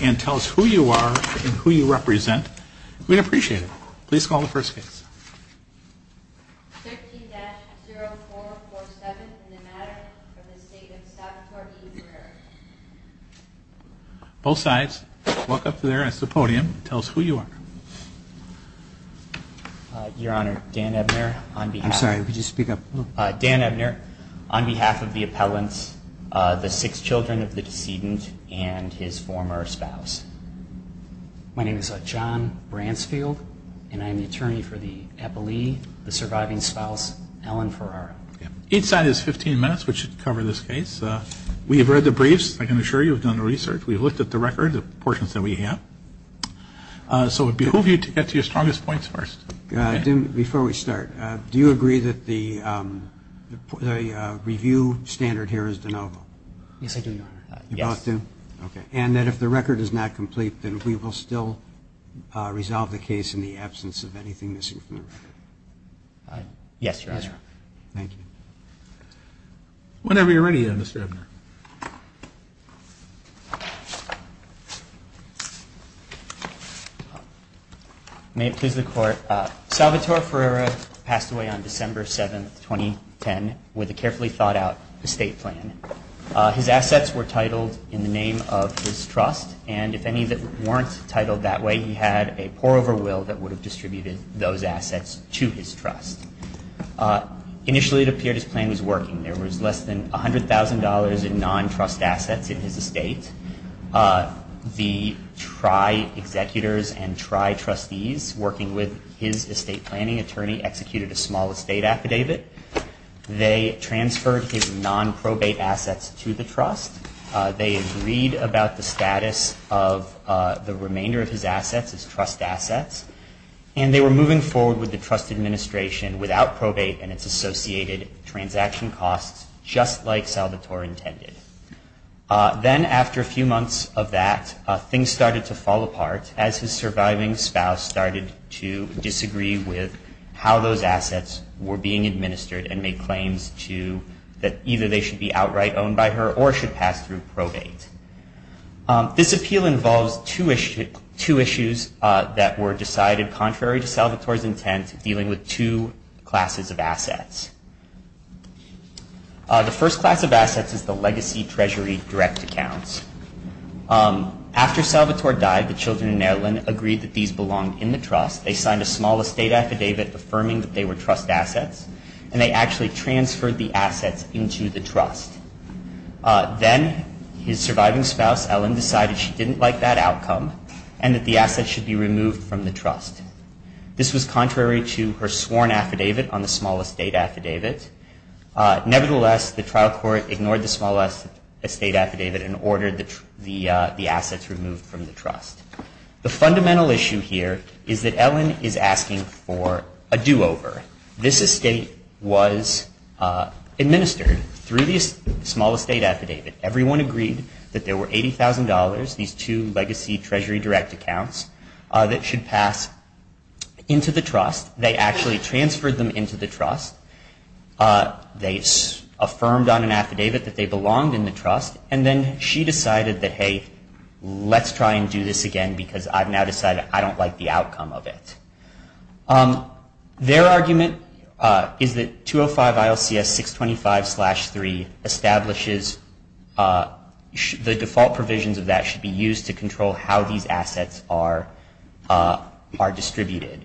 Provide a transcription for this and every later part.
and tell us who you are and who you represent. We'd appreciate it. Please call the first case. Both sides walk up there as the podium. Tell us who you are. Your Honor, Dan Ebner. I'm sorry, could you speak up? Dan Ebner, on behalf of the decedent and his former spouse. My name is John Bransfield and I'm the attorney for the epilee, the surviving spouse, Ellen Ferrera. Each side has 15 minutes which should cover this case. We have read the briefs, I can assure you, we've done the research, we've looked at the record, the portions that we have. So we behoove you to get to your strongest points first. Before we start, do you agree that the review standard here is de novo? Yes, I do, Your Honor. You both do? Okay. And that if the record is not complete, then we will still resolve the case in the absence of anything missing from the record? Yes, Your Honor. Thank you. Whenever you're ready, Mr. Ebner. May it please the Court, Salvatore Ferrera passed away on December 7th, 2010 with a carefully thought out estate plan. His assets were titled in the name of his trust and if any that weren't titled that way, he had a poor over will that would have distributed those assets to his trust. Initially, it appeared his plan was working. There was less than $100,000 in non-trust assets in his estate. The tri-executors and tri-trustees working with his estate planning attorney executed a small estate affidavit. They transferred his non-probate assets to the trust. They agreed about the status of the remainder of his assets as trust assets. And they were moving forward with the trust administration without probate and its associated transaction costs just like Salvatore intended. Then after a few months of that, things started to fall apart as his surviving spouse started to disagree with how those assets were being administered and made claims to that either they should be outright owned by her or should pass through probate. This appeal involves two issues that were decided contrary to Salvatore's intent dealing with two classes of assets. The first class of assets is the legacy treasury direct accounts. After Salvatore died, the children in the family of the deceased belonged in the trust. They signed a small estate affidavit affirming that they were trust assets. And they actually transferred the assets into the trust. Then his surviving spouse, Ellen, decided she didn't like that outcome and that the assets should be removed from the trust. This was contrary to her sworn affidavit on the small estate affidavit. Nevertheless, the trial court ignored the small estate affidavit and ordered the assets removed from the trust. The fundamental issue here is that Ellen is asking for a do-over. This estate was administered through the small estate affidavit. Everyone agreed that there were $80,000, these two legacy treasury direct accounts, that should pass into the trust. They actually transferred them into the trust. They affirmed on an affidavit that they belonged in the trust. And then she decided that, hey, let's try and do this again because I've now decided I don't like the outcome of it. Their argument is that these assets are distributed.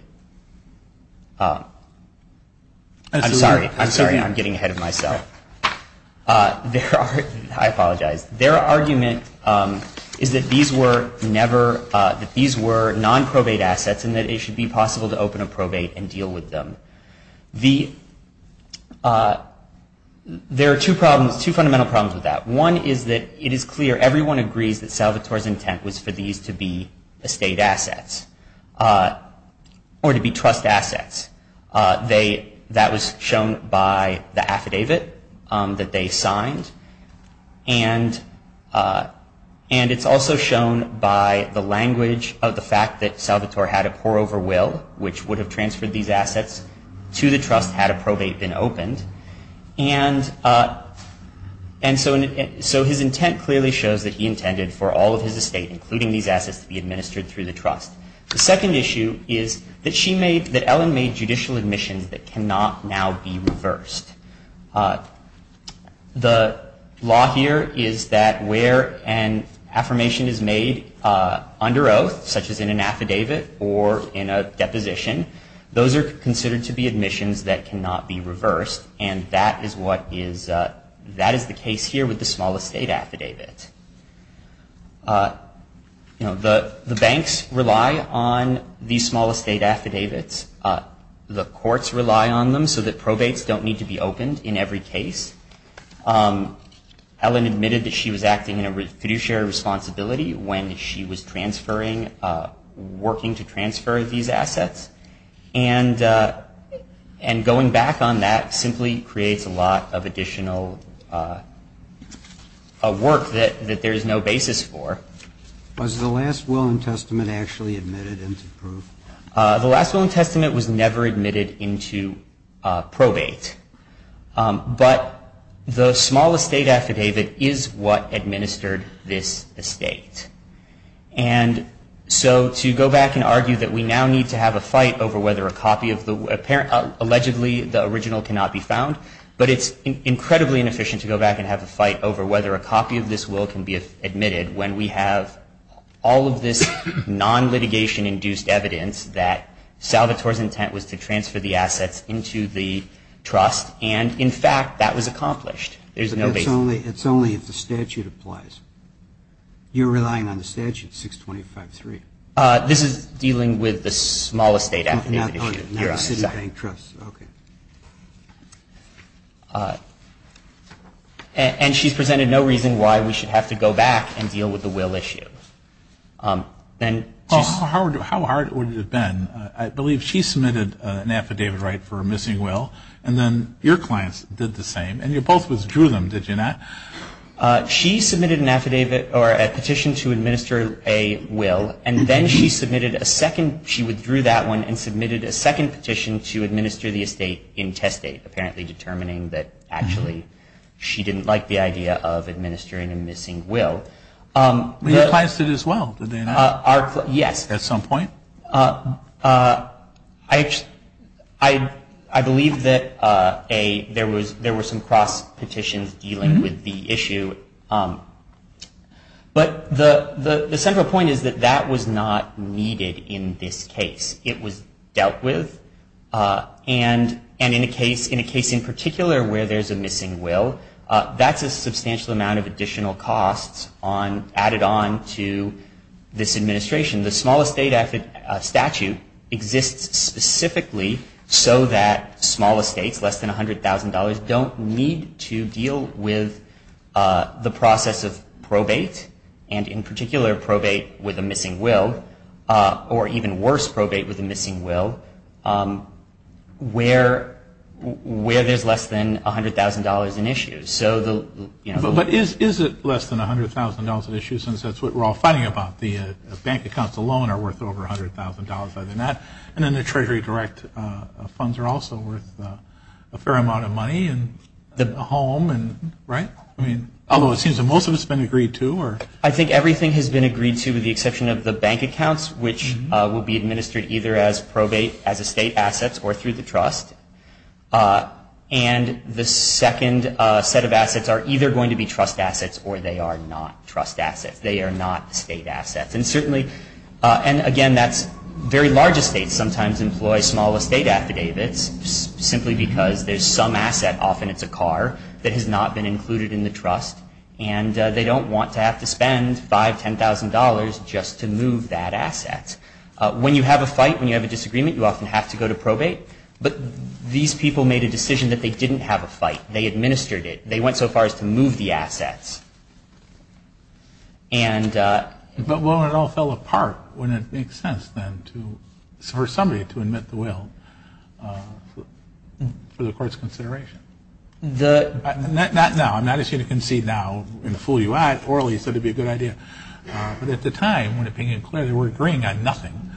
I'm sorry. I'm sorry. I'm getting ahead of myself. I apologize. Their argument is that these were non-probate assets and that it should be possible to open a probate and deal with them. There are two fundamental problems with that. One is that it is clear everyone agrees that these were non-probate estate assets or to be trust assets. That was shown by the affidavit that they signed. And it's also shown by the language of the fact that Salvatore had a poor overwill, which would have transferred these assets to the trust had a probate been opened. And so his intent clearly shows that he intended for all of his estate, including these assets, to be administered through the trust. The second issue is that Ellen made judicial admissions that cannot now be reversed. The law here is that where an affirmation is made under oath, such as in an affidavit or in a deposition, those are considered to be The banks rely on these small estate affidavits. The courts rely on them so that probates don't need to be opened in every case. Ellen admitted that she was acting in a fiduciary responsibility when she was working to transfer these Was the last will in testament actually admitted into proof? The last will in testament was never admitted into probate. But the small estate affidavit is what administered this estate. And so to go back and argue that we now need to have a fight over whether a copy of the, allegedly the original cannot be found, but it's incredibly inefficient to go back and have a fight over whether a copy of this will can be admitted when we have all of this non-litigation-induced evidence that Salvatore's intent was to transfer the assets into the trust. And in fact, that was accomplished. There's no basis. It's only if the statute applies. You're relying on the statute, 625-3. This is dealing with the small estate affidavit issue. And she's presented no reason why we should have to go back and deal with the will issue. How hard would it have been? I believe she submitted an affidavit right for a missing will, and then your clients did the same. And you both withdrew them, did you not? She submitted an affidavit or a petition to administer a will, and then she submitted a second, she withdrew that one and petition to administer the estate in test date, apparently determining that actually she didn't like the idea of administering a missing will. But your clients did as well, did they not? Yes. At some point? I believe that there were some cross-petitions dealing with the issue. But the central point is that that was not needed in this case. It was dealt with. And in a case in particular where there's a missing will, that's a substantial amount of additional costs added on to this administration. The small estate statute exists specifically so that small estates, less than $100,000, don't need to deal with the process of probate with a missing will where there's less than $100,000 in issues. But is it less than $100,000 in issues since that's what we're all fighting about? The bank accounts alone are worth over $100,000. And then the Treasury Direct funds are also worth a fair amount of money and a home, right? Although it seems that most of it has been agreed to. I think everything has been agreed to with the exception of the bank accounts, which will be administered either as probate estate assets or through the trust. And the second set of assets are either going to be trust assets or they are not trust assets. They are not state assets. And again, very large estates sometimes employ small estate affidavits simply because there's some asset, often it's a car, that has not been included in the trust. And they don't want to have to spend $5,000, $10,000 just to move that asset. When you have a fight, when you have a disagreement, you often have to go to probate. But these people made a decision that they didn't have a fight. They administered it. They went so far as to move the assets. And the... Not now. I'm not asking you to concede now. I'm going to fool you out. Orally, you said it would be a good idea. But at the time, when it became clear they were agreeing on nothing,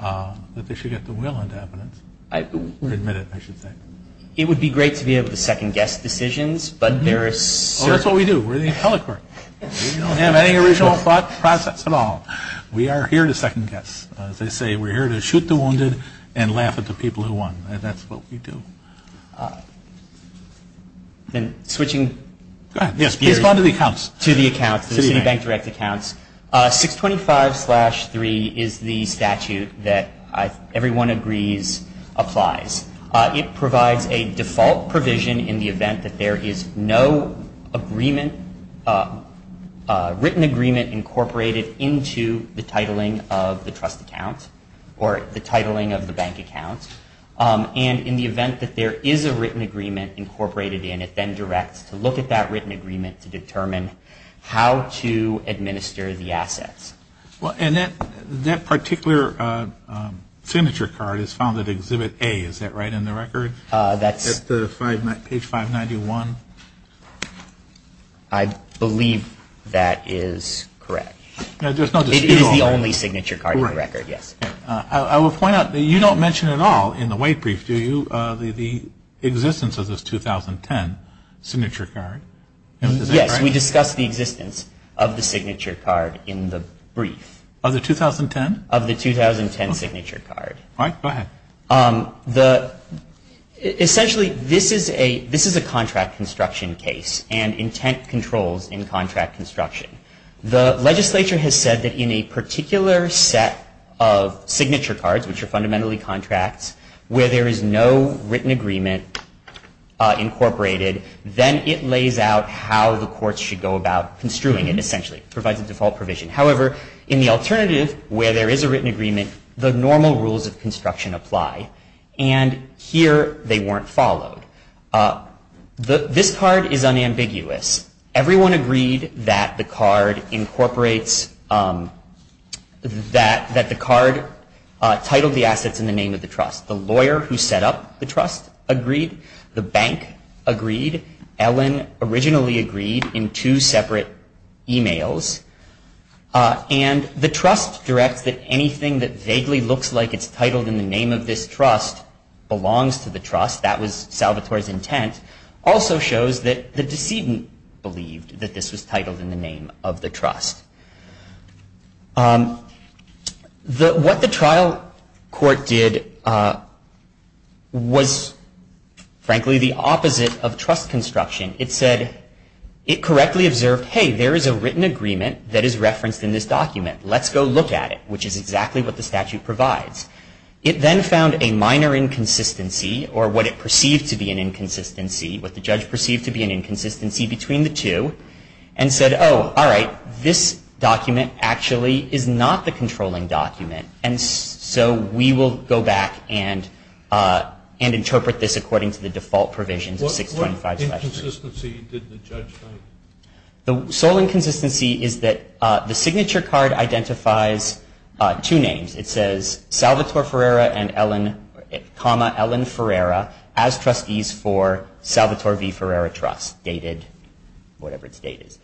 that they should get the will into evidence. Admit it, I should say. It would be great to be able to second-guess decisions, but there are certain... Oh, that's what we do. We're the appellate court. We don't have any original thought process at all. We are here to second-guess. As they say, we're here to shoot the wounded and laugh at the people who won. That's what we do. Then switching... Go ahead. Please respond to the accounts. To the accounts, the Citibank direct accounts. 625-3 is the statute that everyone agrees applies. It provides a default provision in the event that there is no agreement, written agreement, incorporated into the titling of the trust account or the titling of the bank account. And in the event that there is a written agreement incorporated in, it then directs to look at that written agreement to determine how to administer the assets. And that particular signature card is found at Exhibit A, is that right, in the record? That's... Page 591. I believe that is correct. It is the only signature card in the record, yes. I will point out that you don't mention at all in the weight brief, do you, the existence of this 2010 signature card. Is that right? Yes, we discuss the existence of the signature card in the brief. Of the 2010? Of the 2010 signature card. All right, go ahead. Essentially, this is a contract construction case and intent controls in contract construction. The legislature has said that in a particular set of signature cards, which are fundamentally contracts, where there is no written agreement incorporated, then it lays out how the courts should go about construing it, essentially. It provides a default provision. However, in the alternative, where there is a written agreement, the normal rules of construction apply. And here, they weren't followed. This card is unambiguous. Everyone agreed that the card incorporates... that the card titled the assets in the name of the trust. The lawyer who set up the trust agreed. The bank agreed. Ellen originally agreed in two separate e-mails. And the trust directs that anything that vaguely looks like it's titled in the name of this trust belongs to the trust. That was Salvatore's intent. Also shows that the decedent believed that this was titled in the name of the trust. What the trial court did was, frankly, the opposite of trust construction. It said it correctly observed, hey, there is a written agreement that is referenced in this document. Let's go look at it, which is exactly what the statute provides. It then found a minor inconsistency, or what it perceived to be an inconsistency, what the judge perceived to be an inconsistency between the two, and said, oh, all right, this document actually is not the controlling document. And so we will go back and interpret this according to the default provisions of 625. What inconsistency did the judge find? The sole inconsistency is that the signature card identifies two names. It says, Salvatore Ferreira and Ellen, comma, Ellen Ferreira as trustees for Salvatore V. Ferreira Trust, dated whatever its date is.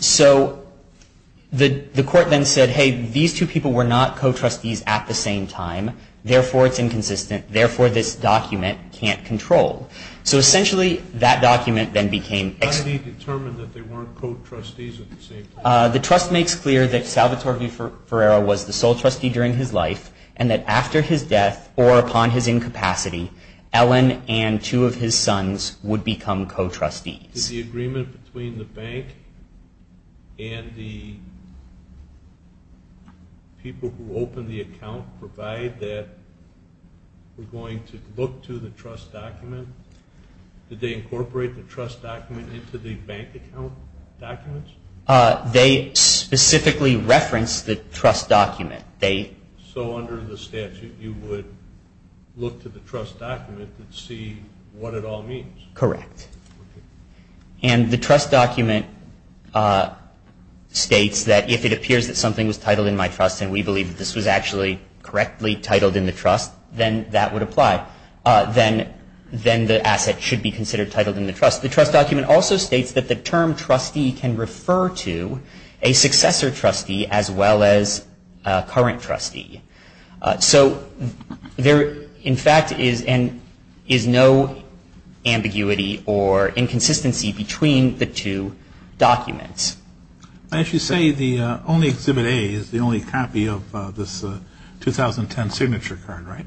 So the court then said, hey, these two people were not co-trustees at the same time. Therefore, it's inconsistent. Therefore, this document can't control. So essentially, that document then became ex- How did he determine that they weren't co-trustees at the same time? The trust makes clear that Salvatore V. Ferreira was the sole trustee during his life, and that after his death or upon his incapacity, Ellen and two of his sons would become co-trustees. Did the agreement between the bank and the people who opened the account provide that we're going to look to the trust document? Did they incorporate the trust document into the bank account documents? They specifically referenced the trust document. So under the statute, you would look to the trust document and see what it all means? Correct. And the trust document states that if it appears that something was titled in my trust and we believe that this was actually correctly titled in the trust, then that would apply. Then the asset should be considered titled in the trust. The trust document also states that the term trustee can refer to a successor trustee as well as a current trustee. So there, in fact, is no ambiguity or inconsistency between the two documents. As you say, the only Exhibit A is the only copy of this 2010 signature card, right?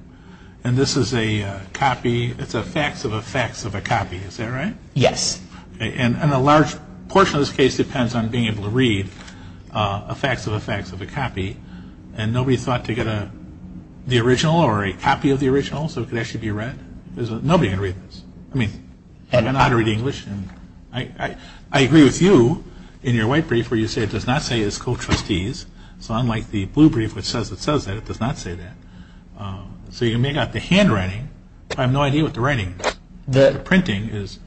And this is a copy. It's a fax of a fax of a copy. Is that right? Yes. And a large portion of this case depends on being able to read a fax of a fax of a copy. And nobody thought to get the original or a copy of the original so it could actually be read? Nobody can read this. I mean, they don't know how to read English. I agree with you in your white brief where you say it does not say it's co-trustees. So unlike the blue brief which says it says that, it does not say that. So you may have got the handwriting. I have no idea what the writing is. The printing is.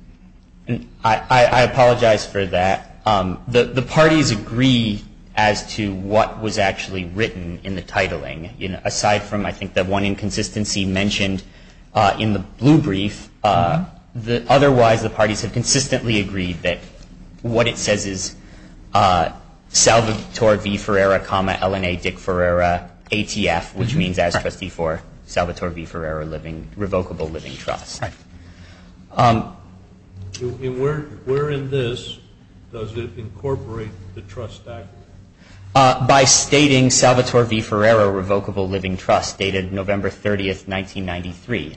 I apologize for that. The parties agree as to what was actually written in the titling, aside from, I think, the one inconsistency mentioned in the blue brief. Otherwise, the parties have consistently agreed that what it says is Salvatore V. Ferreira, LNA Dick Ferreira, ATF, which means as Trustee for Salvatore V. Ferreira Revocable Living Trust. Right. And where in this does it incorporate the trust act? By stating Salvatore V. Ferreira Revocable Living Trust dated November 30, 1993.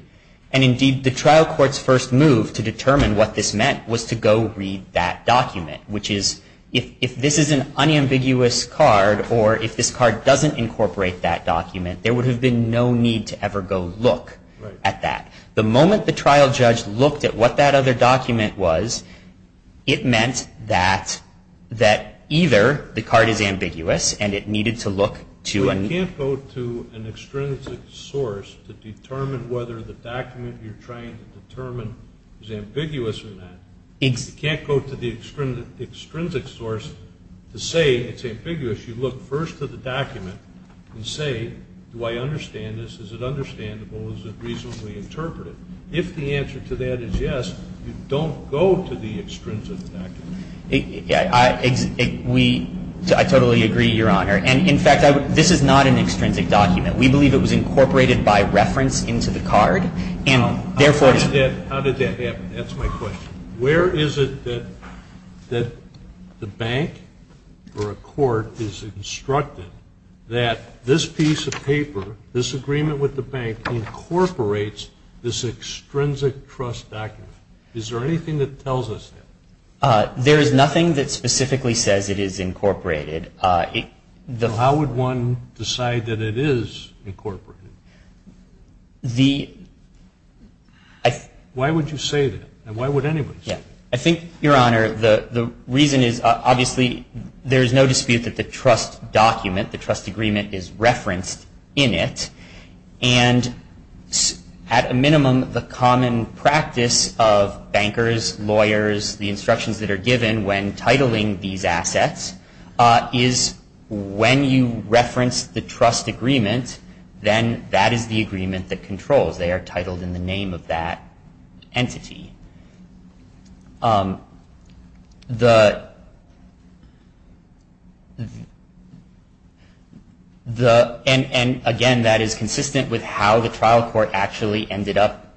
And, indeed, the trial court's first move to determine what this meant was to go read that document, which is if this is an unambiguous card or if this card doesn't incorporate that document, there would have been no need to ever go look at that. The moment the trial judge looked at what that other document was, it meant that either the card is ambiguous and it needed to look to an ‑‑ You can't go to an extrinsic source to determine whether the document you're trying to determine is ambiguous in that. You can't go to the extrinsic source to say it's ambiguous. You look first to the document and say, do I understand this? Is it understandable? Is it reasonably interpreted? If the answer to that is yes, you don't go to the extrinsic document. I totally agree, Your Honor. And, in fact, this is not an extrinsic document. We believe it was incorporated by reference into the card. And, therefore ‑‑ How did that happen? That's my question. Where is it that the bank or a court is instructed that this piece of paper, this agreement with the bank incorporates this extrinsic trust document? Is there anything that tells us that? There is nothing that specifically says it is incorporated. How would one decide that it is incorporated? The ‑‑ Why would you say that? And why would anybody say that? I think, Your Honor, the reason is, obviously, there is no dispute that the trust document, the trust agreement, is referenced in it. And, at a minimum, the common practice of bankers, lawyers, the instructions that are given when titling these assets, is when you reference the trust agreement, then that is the agreement that controls. They are titled in the name of that entity. And, again, that is consistent with how the trial court actually ended up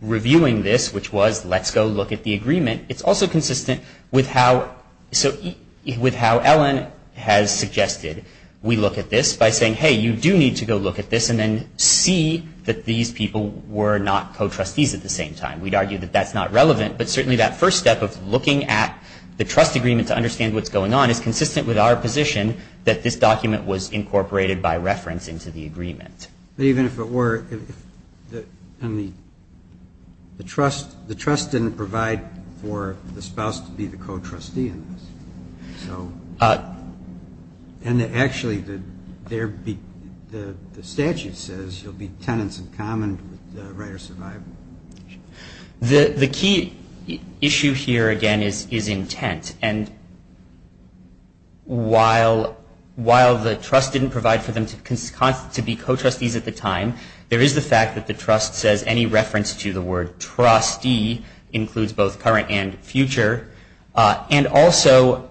reviewing this, which was, let's go look at the agreement. It's also consistent with how Ellen has suggested we look at this, by saying, hey, you do need to go look at this and then see that these people were not co‑trustees at the same time. We'd argue that that's not relevant. But, certainly, that first step of looking at the trust agreement to understand what's going on is consistent with our position that this document was incorporated by reference into the agreement. But, even if it were, the trust didn't provide for the spouse to be the co‑trustee in this. And, actually, the statute says you'll be tenants in common with the right of survival. The key issue here, again, is intent. And, while the trust didn't provide for them to be co‑trustees at the time, there is the fact that the trust says any reference to the word trustee includes both current and future. And, also,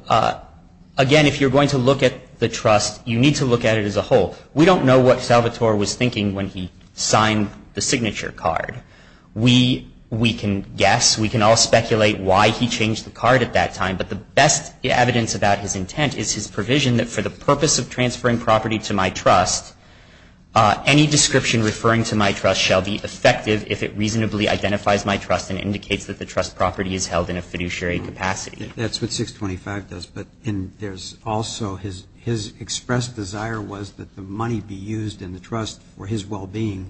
again, if you're going to look at the trust, you need to look at it as a whole. We don't know what Salvatore was thinking when he signed the signature card. We can guess. We can all speculate why he changed the card at that time. But the best evidence about his intent is his provision that, for the purpose of transferring property to my trust, any description referring to my trust shall be effective if it reasonably identifies my trust and indicates that the trust property is held in a fiduciary capacity. That's what 625 does. But there's also his expressed desire was that the money be used in the trust for his well‑being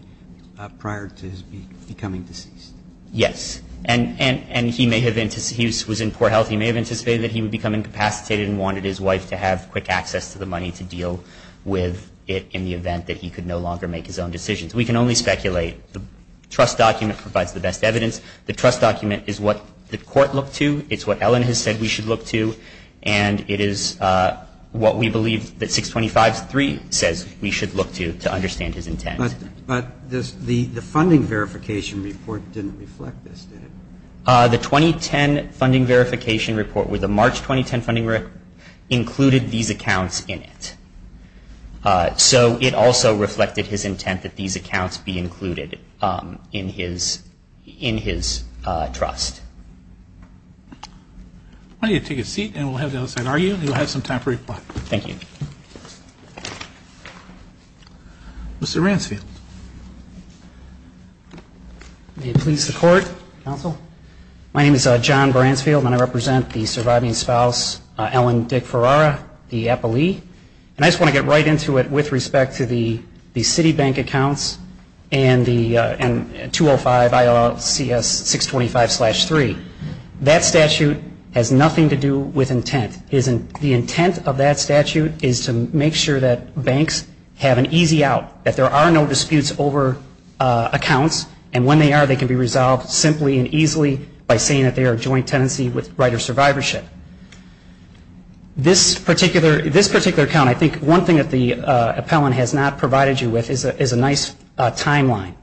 prior to his becoming deceased. Yes. And he may have ‑‑ he was in poor health. He may have anticipated that he would become incapacitated and wanted his wife to have quick access to the money to deal with it in the event that he could no longer make his own decisions. We can only speculate. The trust document provides the best evidence. The trust document is what the court looked to. It's what Ellen has said we should look to. And it is what we believe that 625.3 says we should look to to understand his intent. But the funding verification report didn't reflect this, did it? The 2010 funding verification report with the March 2010 funding verification included these accounts in it. So it also reflected his intent that these accounts be included in his trust. Why don't you take a seat, and we'll have the other side argue, and you'll have some time for reply. Thank you. Mr. Ransfield. May it please the court, counsel. My name is John Ransfield, and I represent the surviving spouse, Ellen Dick Ferrara, the appellee. And I just want to get right into it with respect to the Citibank accounts and the 205 ILLCS 625.3. That statute has nothing to do with intent. The intent of that statute is to make sure that banks have an easy out, that there are no disputes over accounts, and when they are, they can be resolved simply and easily by saying that they are a joint tenancy with right of survivorship. This particular account, I think one thing that the appellant has not provided you with, is a nice timeline.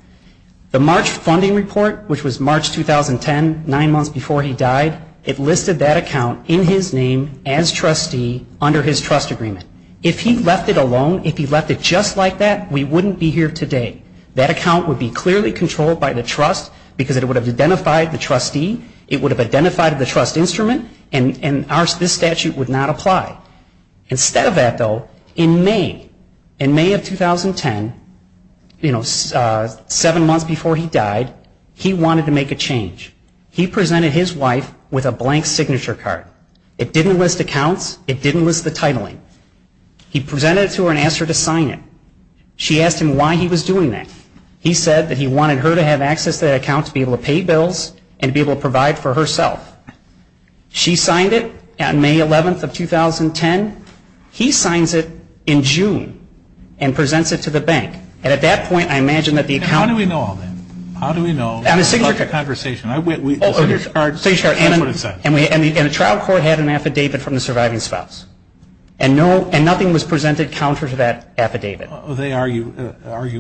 The March funding report, which was March 2010, nine months before he died, it listed that account in his name as trustee under his trust agreement. If he left it alone, if he left it just like that, we wouldn't be here today. That account would be clearly controlled by the trust because it would have identified the trustee, it would have identified the trust instrument, and this statute would not apply. Instead of that, though, in May, in May of 2010, seven months before he died, he wanted to make a change. He presented his wife with a blank signature card. It didn't list accounts. It didn't list the titling. He presented it to her and asked her to sign it. She asked him why he was doing that. He said that he wanted her to have access to that account to be able to pay bills and be able to provide for herself. She signed it on May 11th of 2010. He signs it in June and presents it to the bank. And at that point, I imagine that the account... And how do we know all that? How do we know? It's a hard conversation. Signature card, that's what it says. And the trial court had an affidavit from the surviving spouse. And nothing was presented counter to that affidavit. They argue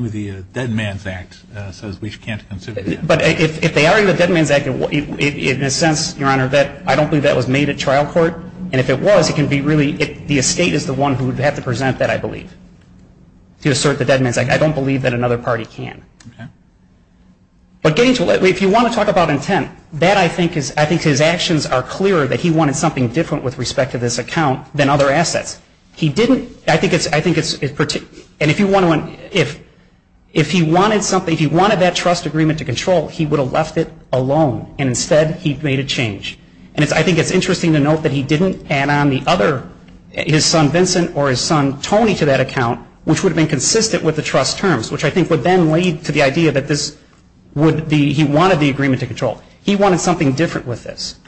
the Dead Man's Act says we can't consider that. But if they argue the Dead Man's Act, in a sense, Your Honor, I don't believe that was made at trial court. And if it was, it can be really the estate is the one who would have to present that, I believe, to assert the Dead Man's Act. I don't believe that another party can. But, Gage, if you want to talk about intent, that I think is... I think his actions are clear that he wanted something different with respect to this account than other assets. He didn't... I think it's... And if you want to... If he wanted something... If he wanted that trust agreement to control, he would have left it alone. And instead, he made a change. And I think it's interesting to note that he didn't add on the other... his son Vincent or his son Tony to that account, which would have been consistent with the trust terms, which I think would then lead to the idea that this would be... he wanted the agreement to control. He wanted something different with this.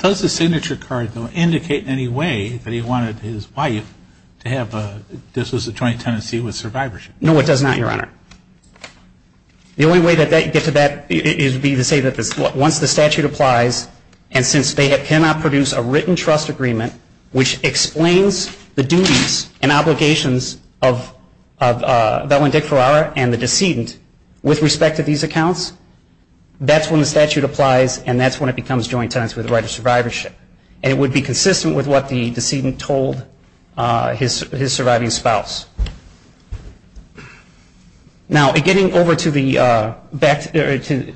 Does the signature card, though, indicate in any way that he wanted his wife to have... this was a joint tenancy with survivorship? No, it does not, Your Honor. The only way that you get to that is to say that once the statute applies and since they cannot produce a written trust agreement which explains the duties and obligations of Vellandick Ferrara and the decedent with respect to these accounts, that's when the statute applies and that's when it becomes joint tenancy with the right of survivorship. And it would be consistent with what the decedent told his surviving spouse. Now, getting over to the... the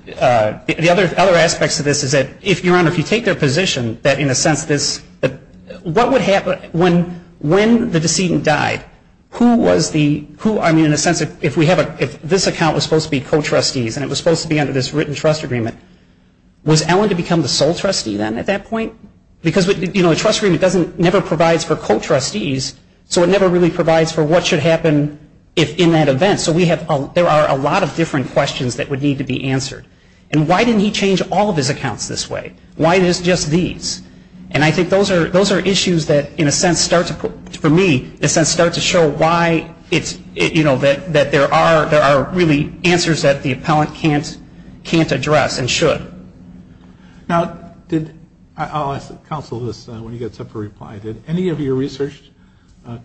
other aspects of this is that if, Your Honor, if you take their position that in a sense this... what would happen when the decedent died? Who was the... I mean, in a sense, if we have a... if this account was supposed to be co-trustees and it was supposed to be under this written trust agreement, was Ellen to become the sole trustee then at that point? Because, you know, a trust agreement doesn't... never provides for co-trustees, so it never really provides for what should happen in that event. So we have... there are a lot of different questions that would need to be answered. And why didn't he change all of his accounts this way? Why just these? And I think those are issues that, in a sense, start to... for me, in a sense, start to show why it's... you know, that there are really answers that the appellant can't address and should. Now, did... I'll ask counsel this when he gets up for reply. Did any of your research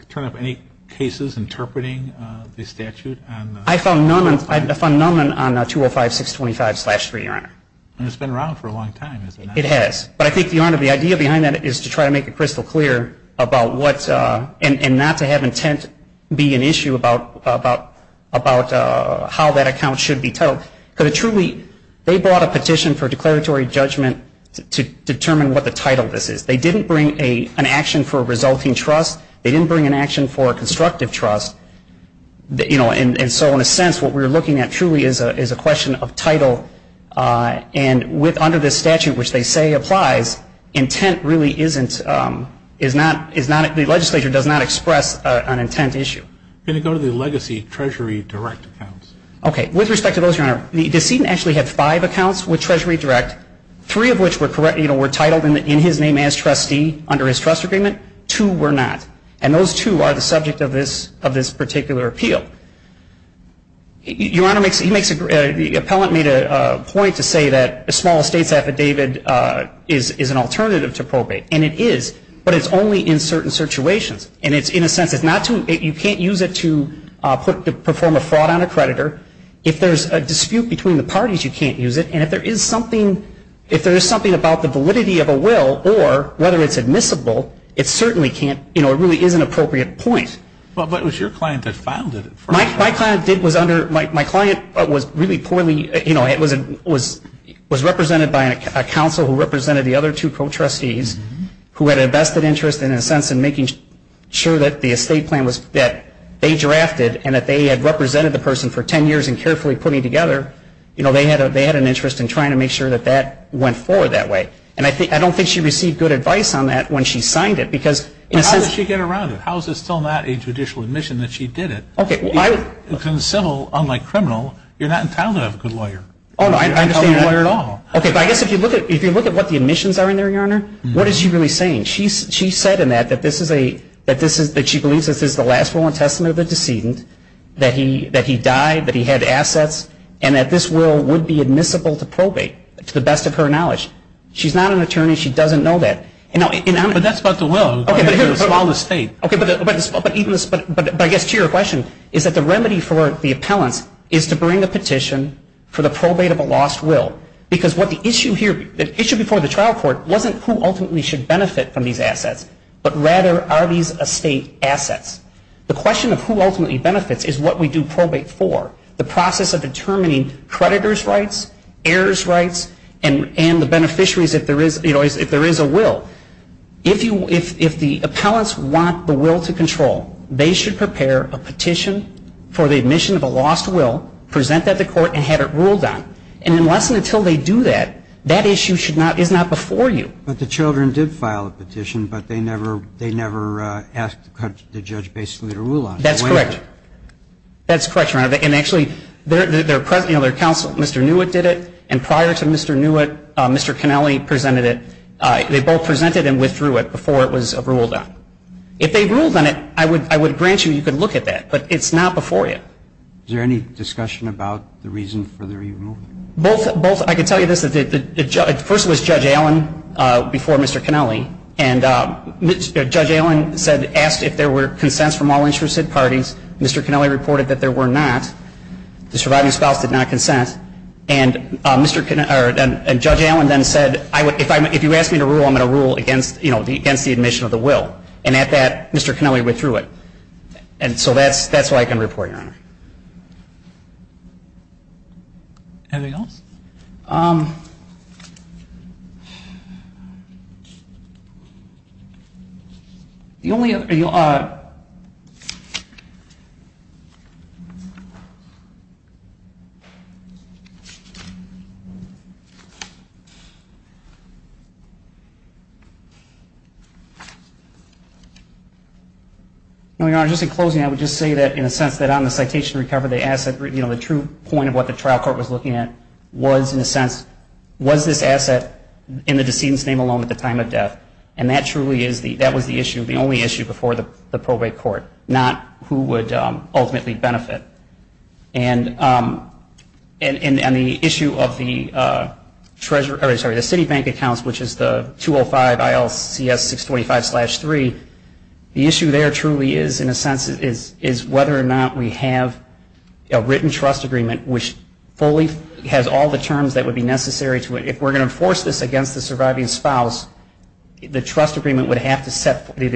turn up any cases interpreting the statute on... I found none. I found none on 205-625-3, Your Honor. And it's been around for a long time, hasn't it? It has. But I think, Your Honor, the idea behind that is to try to make it crystal clear about what... and not to have intent be an issue about how that account should be titled. Because it truly... they brought a petition for declaratory judgment to determine what the title of this is. They didn't bring an action for a resulting trust. They didn't bring an action for a constructive trust. You know, and so, in a sense, what we're looking at truly is a question of title. And with... under this statute, which they say applies, intent really isn't... is not... the legislature does not express an intent issue. Can you go to the legacy Treasury Direct accounts? Okay. With respect to those, Your Honor, the decedent actually had five accounts with Treasury Direct, three of which were correct... you know, were titled in his name as trustee under his trust agreement. Two were not. And those two are the subject of this... of this particular appeal. Your Honor, he makes a... the appellant made a point to say that a small estate's affidavit is an alternative to probate. And it is. But it's only in certain situations. And it's in a sense... it's not to... you can't use it to put... to perform a fraud on a creditor. If there's a dispute between the parties, you can't use it. And if there is something... if there is something about the validity of a will or whether it's admissible, it certainly can't... you know, it really is an appropriate point. But it was your client that filed it. My client did... was under... my client was really poorly... you know, it was... was represented by a counsel who represented the other two co-trustees who had a vested interest in a sense in making sure that the estate plan was... that they drafted and that they had represented the person for 10 years and carefully put it together. You know, they had an interest in trying to make sure that that went forward that way. And I think... I don't think she received good advice on that when she signed it because in a sense... But how did she get around it? How is it still not a judicial admission that she did it? Okay, well I... Because in civil, unlike criminal, you're not entitled to have a good lawyer. Oh, no, I understand that. You're not entitled to a lawyer at all. Okay, but I guess if you look at... if you look at what the admissions are in there, Your Honor, what is she really saying? She said in that that this is a... that this is... that she believes this is the last will and testament of the decedent, that he died, that he had assets, and that this will would be admissible to probate to the best of her knowledge. She's not an attorney. She doesn't know that. But that's about the will. Okay, but here... It's a small estate. Okay, but even... but I guess to your question, is that the remedy for the appellants is to bring a petition for the probate of a lost will because what the issue here... the issue before the trial court wasn't who ultimately should benefit from these assets, but rather are these estate assets? The question of who ultimately benefits is what we do probate for. The process of determining creditor's rights, heirs' rights, and the beneficiaries if there is a will. If the appellants want the will to control, they should prepare a petition for the admission of a lost will, present that to court, and have it ruled on. And unless and until they do that, that issue is not before you. But the children did file a petition, but they never asked the judge basically to rule on it. That's correct. That's correct, Your Honor. And actually, their counsel, Mr. Newitt, did it, and prior to Mr. Newitt, Mr. Cannelli presented it. They both presented and withdrew it before it was ruled on. If they ruled on it, I would grant you you could look at that, but it's not before you. Is there any discussion about the reason for their removal? Both. I can tell you this. First it was Judge Allen before Mr. Cannelli, and Judge Allen asked if there were consents from all interested parties. Mr. Cannelli reported that there were not. The surviving spouse did not consent. And Judge Allen then said, if you ask me to rule, I'm going to rule against the admission of the will. And at that, Mr. Cannelli withdrew it. And so that's what I can report, Your Honor. Anything else? The only other thing, Your Honor, just in closing, I would just say that in a sense that on the citation recovery, the true point of what the trial court was looking at was, in a sense, was this asset in the decedent's name alone at the time of death? And that was the only issue before the probate court, not who would ultimately benefit. And on the issue of the Citibank accounts, which is the 205 ILCS 625-3, the issue there truly is, in a sense, is whether or not we have a written trust agreement, which fully has all the terms that would be necessary to it. If we're going to enforce this against the surviving spouse, the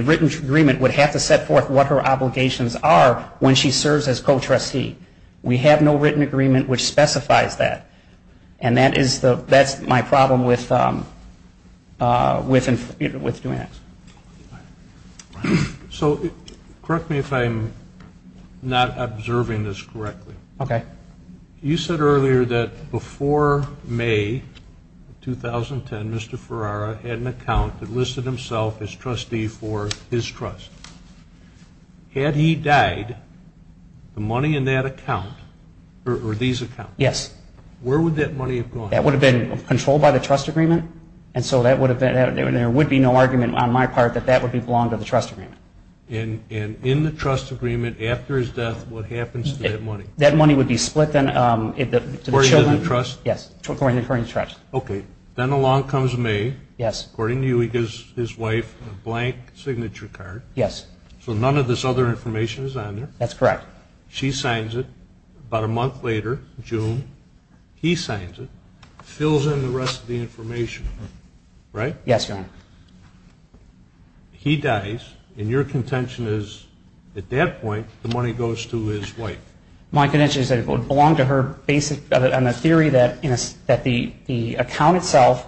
written agreement would have to set forth what her obligations are when she serves as co-trustee. We have no written agreement which specifies that. And that's my problem with doing that. So correct me if I'm not observing this correctly. Okay. You said earlier that before May 2010, Mr. Ferrara had an account that listed himself as trustee for his trust. Had he died, the money in that account, or these accounts, where would that money have gone? That would have been controlled by the trust agreement, and so there would be no argument on my part that that would belong to the trust agreement. And in the trust agreement after his death, what happens to that money? That money would be split to the children. According to the trust? Yes, according to the trust. Okay. Then along comes May. Yes. According to you, he gives his wife a blank signature card. Yes. So none of this other information is on there. That's correct. She signs it about a month later, June. He signs it, fills in the rest of the information, right? Yes, Your Honor. He dies, and your contention is at that point the money goes to his wife. My contention is that it would belong to her, based on the theory that the account itself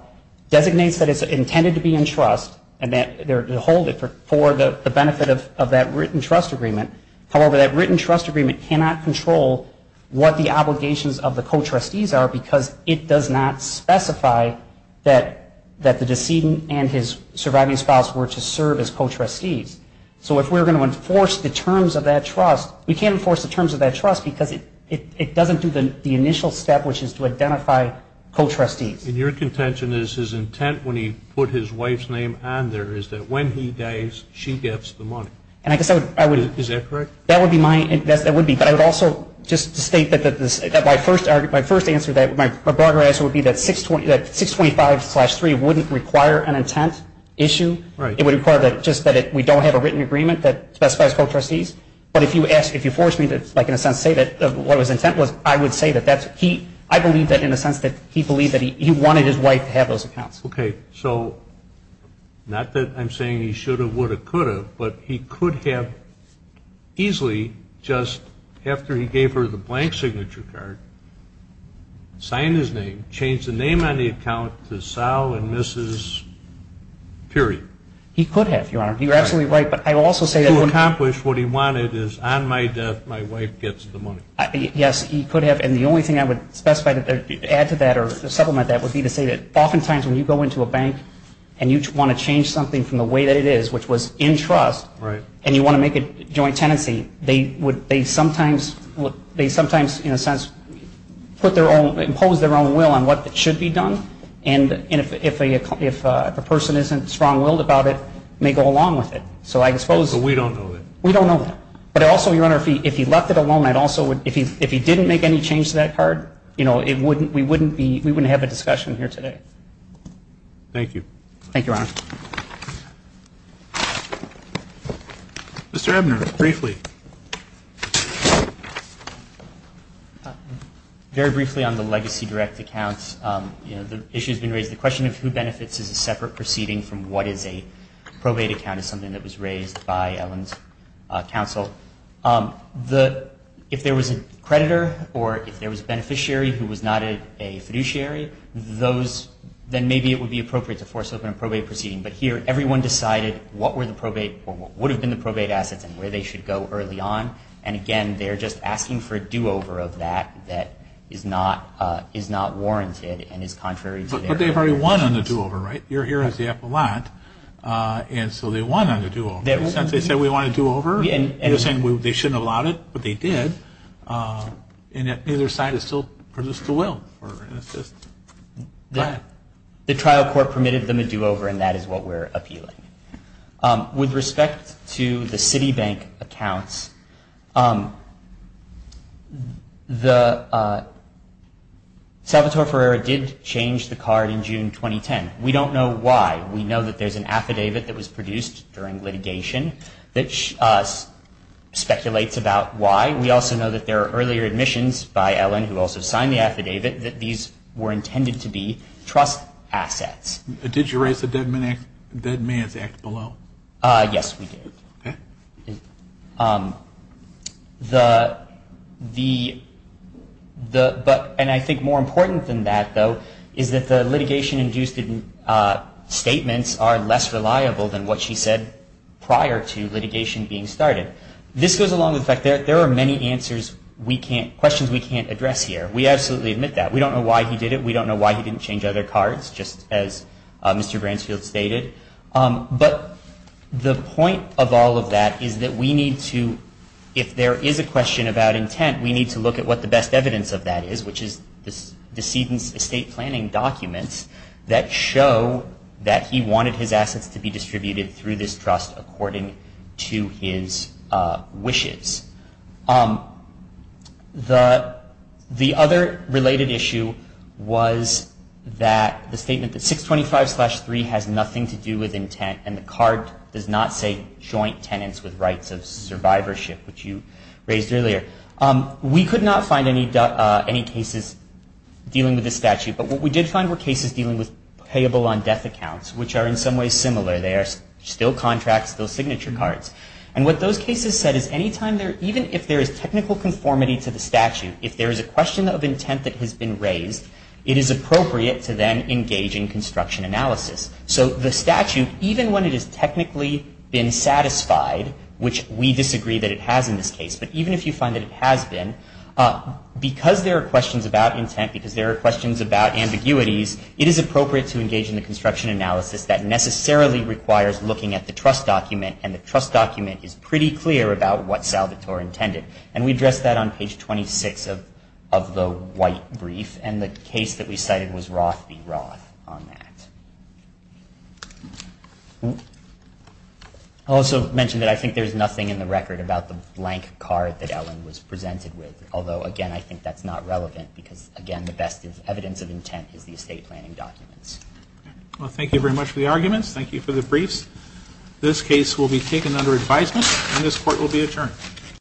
designates that it's intended to be in trust and that they're to hold it for the benefit of that written trust agreement. However, that written trust agreement cannot control what the obligations of the co-trustees are because it does not specify that the decedent and his surviving spouse were to serve as co-trustees. So if we're going to enforce the terms of that trust, we can't enforce the terms of that trust because it doesn't do the initial step, which is to identify co-trustees. And your contention is his intent when he put his wife's name on there is that when he dies, she gets the money. Is that correct? That would be mine. That would be. But I would also just state that my first answer, my broader answer would be that 625-3 wouldn't require an intent issue. It would require just that we don't have a written agreement that specifies co-trustees. But if you force me to, like, in a sense say that what was intent was, I would say that I believe that in a sense that he believed that he wanted his wife to have those accounts. Okay. So not that I'm saying he should have, would have, could have, but he could have easily just after he gave her the blank signature card, signed his name, changed the name on the account to Sal and Mrs. period. He could have, Your Honor. You're absolutely right. But I would also say that. To accomplish what he wanted is on my death my wife gets the money. Yes, he could have. And the only thing I would specify to add to that or supplement that would be to say that oftentimes when you go into a bank and you want to change something from the way that it is, which was in trust, and you want to make a joint tenancy, they sometimes, in a sense, impose their own will on what should be done. And if a person isn't strong-willed about it, may go along with it. So I suppose. But we don't know that. We don't know that. But also, Your Honor, if he left it alone, if he didn't make any change to that card, we wouldn't have a discussion here today. Thank you. Thank you, Your Honor. Mr. Ebner, briefly. Very briefly on the legacy direct accounts, the issue has been raised. The question of who benefits is a separate proceeding from what is a probate account is something that was raised by Ellen's counsel. If there was a creditor or if there was a beneficiary who was not a fiduciary, then maybe it would be appropriate to force open a probate proceeding. But here everyone decided what were the probate or what would have been the probate assets and where they should go early on. And, again, they're just asking for a do-over of that that is not warranted and is contrary to their request. But they've already won on the do-over, right? You're here as the appellant, and so they won on the do-over. They said we want a do-over. You're saying they shouldn't have allowed it, but they did. And neither side has still produced a will for an assist. The trial court permitted them a do-over, and that is what we're appealing. With respect to the Citibank accounts, the – Salvatore Ferreira did change the card in June 2010. We don't know why. We know that there's an affidavit that was produced during litigation that speculates about why. We also know that there are earlier admissions by Ellen, who also signed the affidavit, that these were intended to be trust assets. Did you raise the Dead Man's Act below? Yes, we did. Okay. The – and I think more important than that, though, is that the litigation-induced statements are less reliable than what she said prior to litigation being started. This goes along with the fact that there are many answers we can't – questions we can't address here. We absolutely admit that. We don't know why he did it. We don't know why he didn't change other cards, just as Mr. Bransfield stated. But the point of all of that is that we need to – if there is a question about intent, we need to look at what the best evidence of that is, which is the decedent's estate planning documents that show that he wanted his assets to be distributed through this trust according to his wishes. The other related issue was that the statement that 625-3 has nothing to do with intent and the card does not say joint tenants with rights of survivorship, which you raised earlier. We could not find any cases dealing with this statute, but what we did find were cases dealing with payable on death accounts, which are in some ways similar. They are still contracts, still signature cards. And what those cases said is anytime there – even if there is technical conformity to the statute, if there is a question of intent that has been raised, it is appropriate to then engage in construction analysis. So the statute, even when it has technically been satisfied, which we disagree that it has in this case, but even if you find that it has been, because there are questions about intent, because there are questions about ambiguities, it is appropriate to engage in the construction analysis that necessarily requires looking at the trust document, and the trust document is pretty clear about what Salvatore intended. And we addressed that on page 26 of the white brief, and the case that we cited was Roth v. Roth on that. I also mentioned that I think there is nothing in the record about the blank card that Ellen was presented with, although again I think that is not relevant, because again the best evidence of intent is the estate planning documents. Well, thank you very much for the arguments. Thank you for the briefs. This case will be taken under advisement, and this court will be adjourned.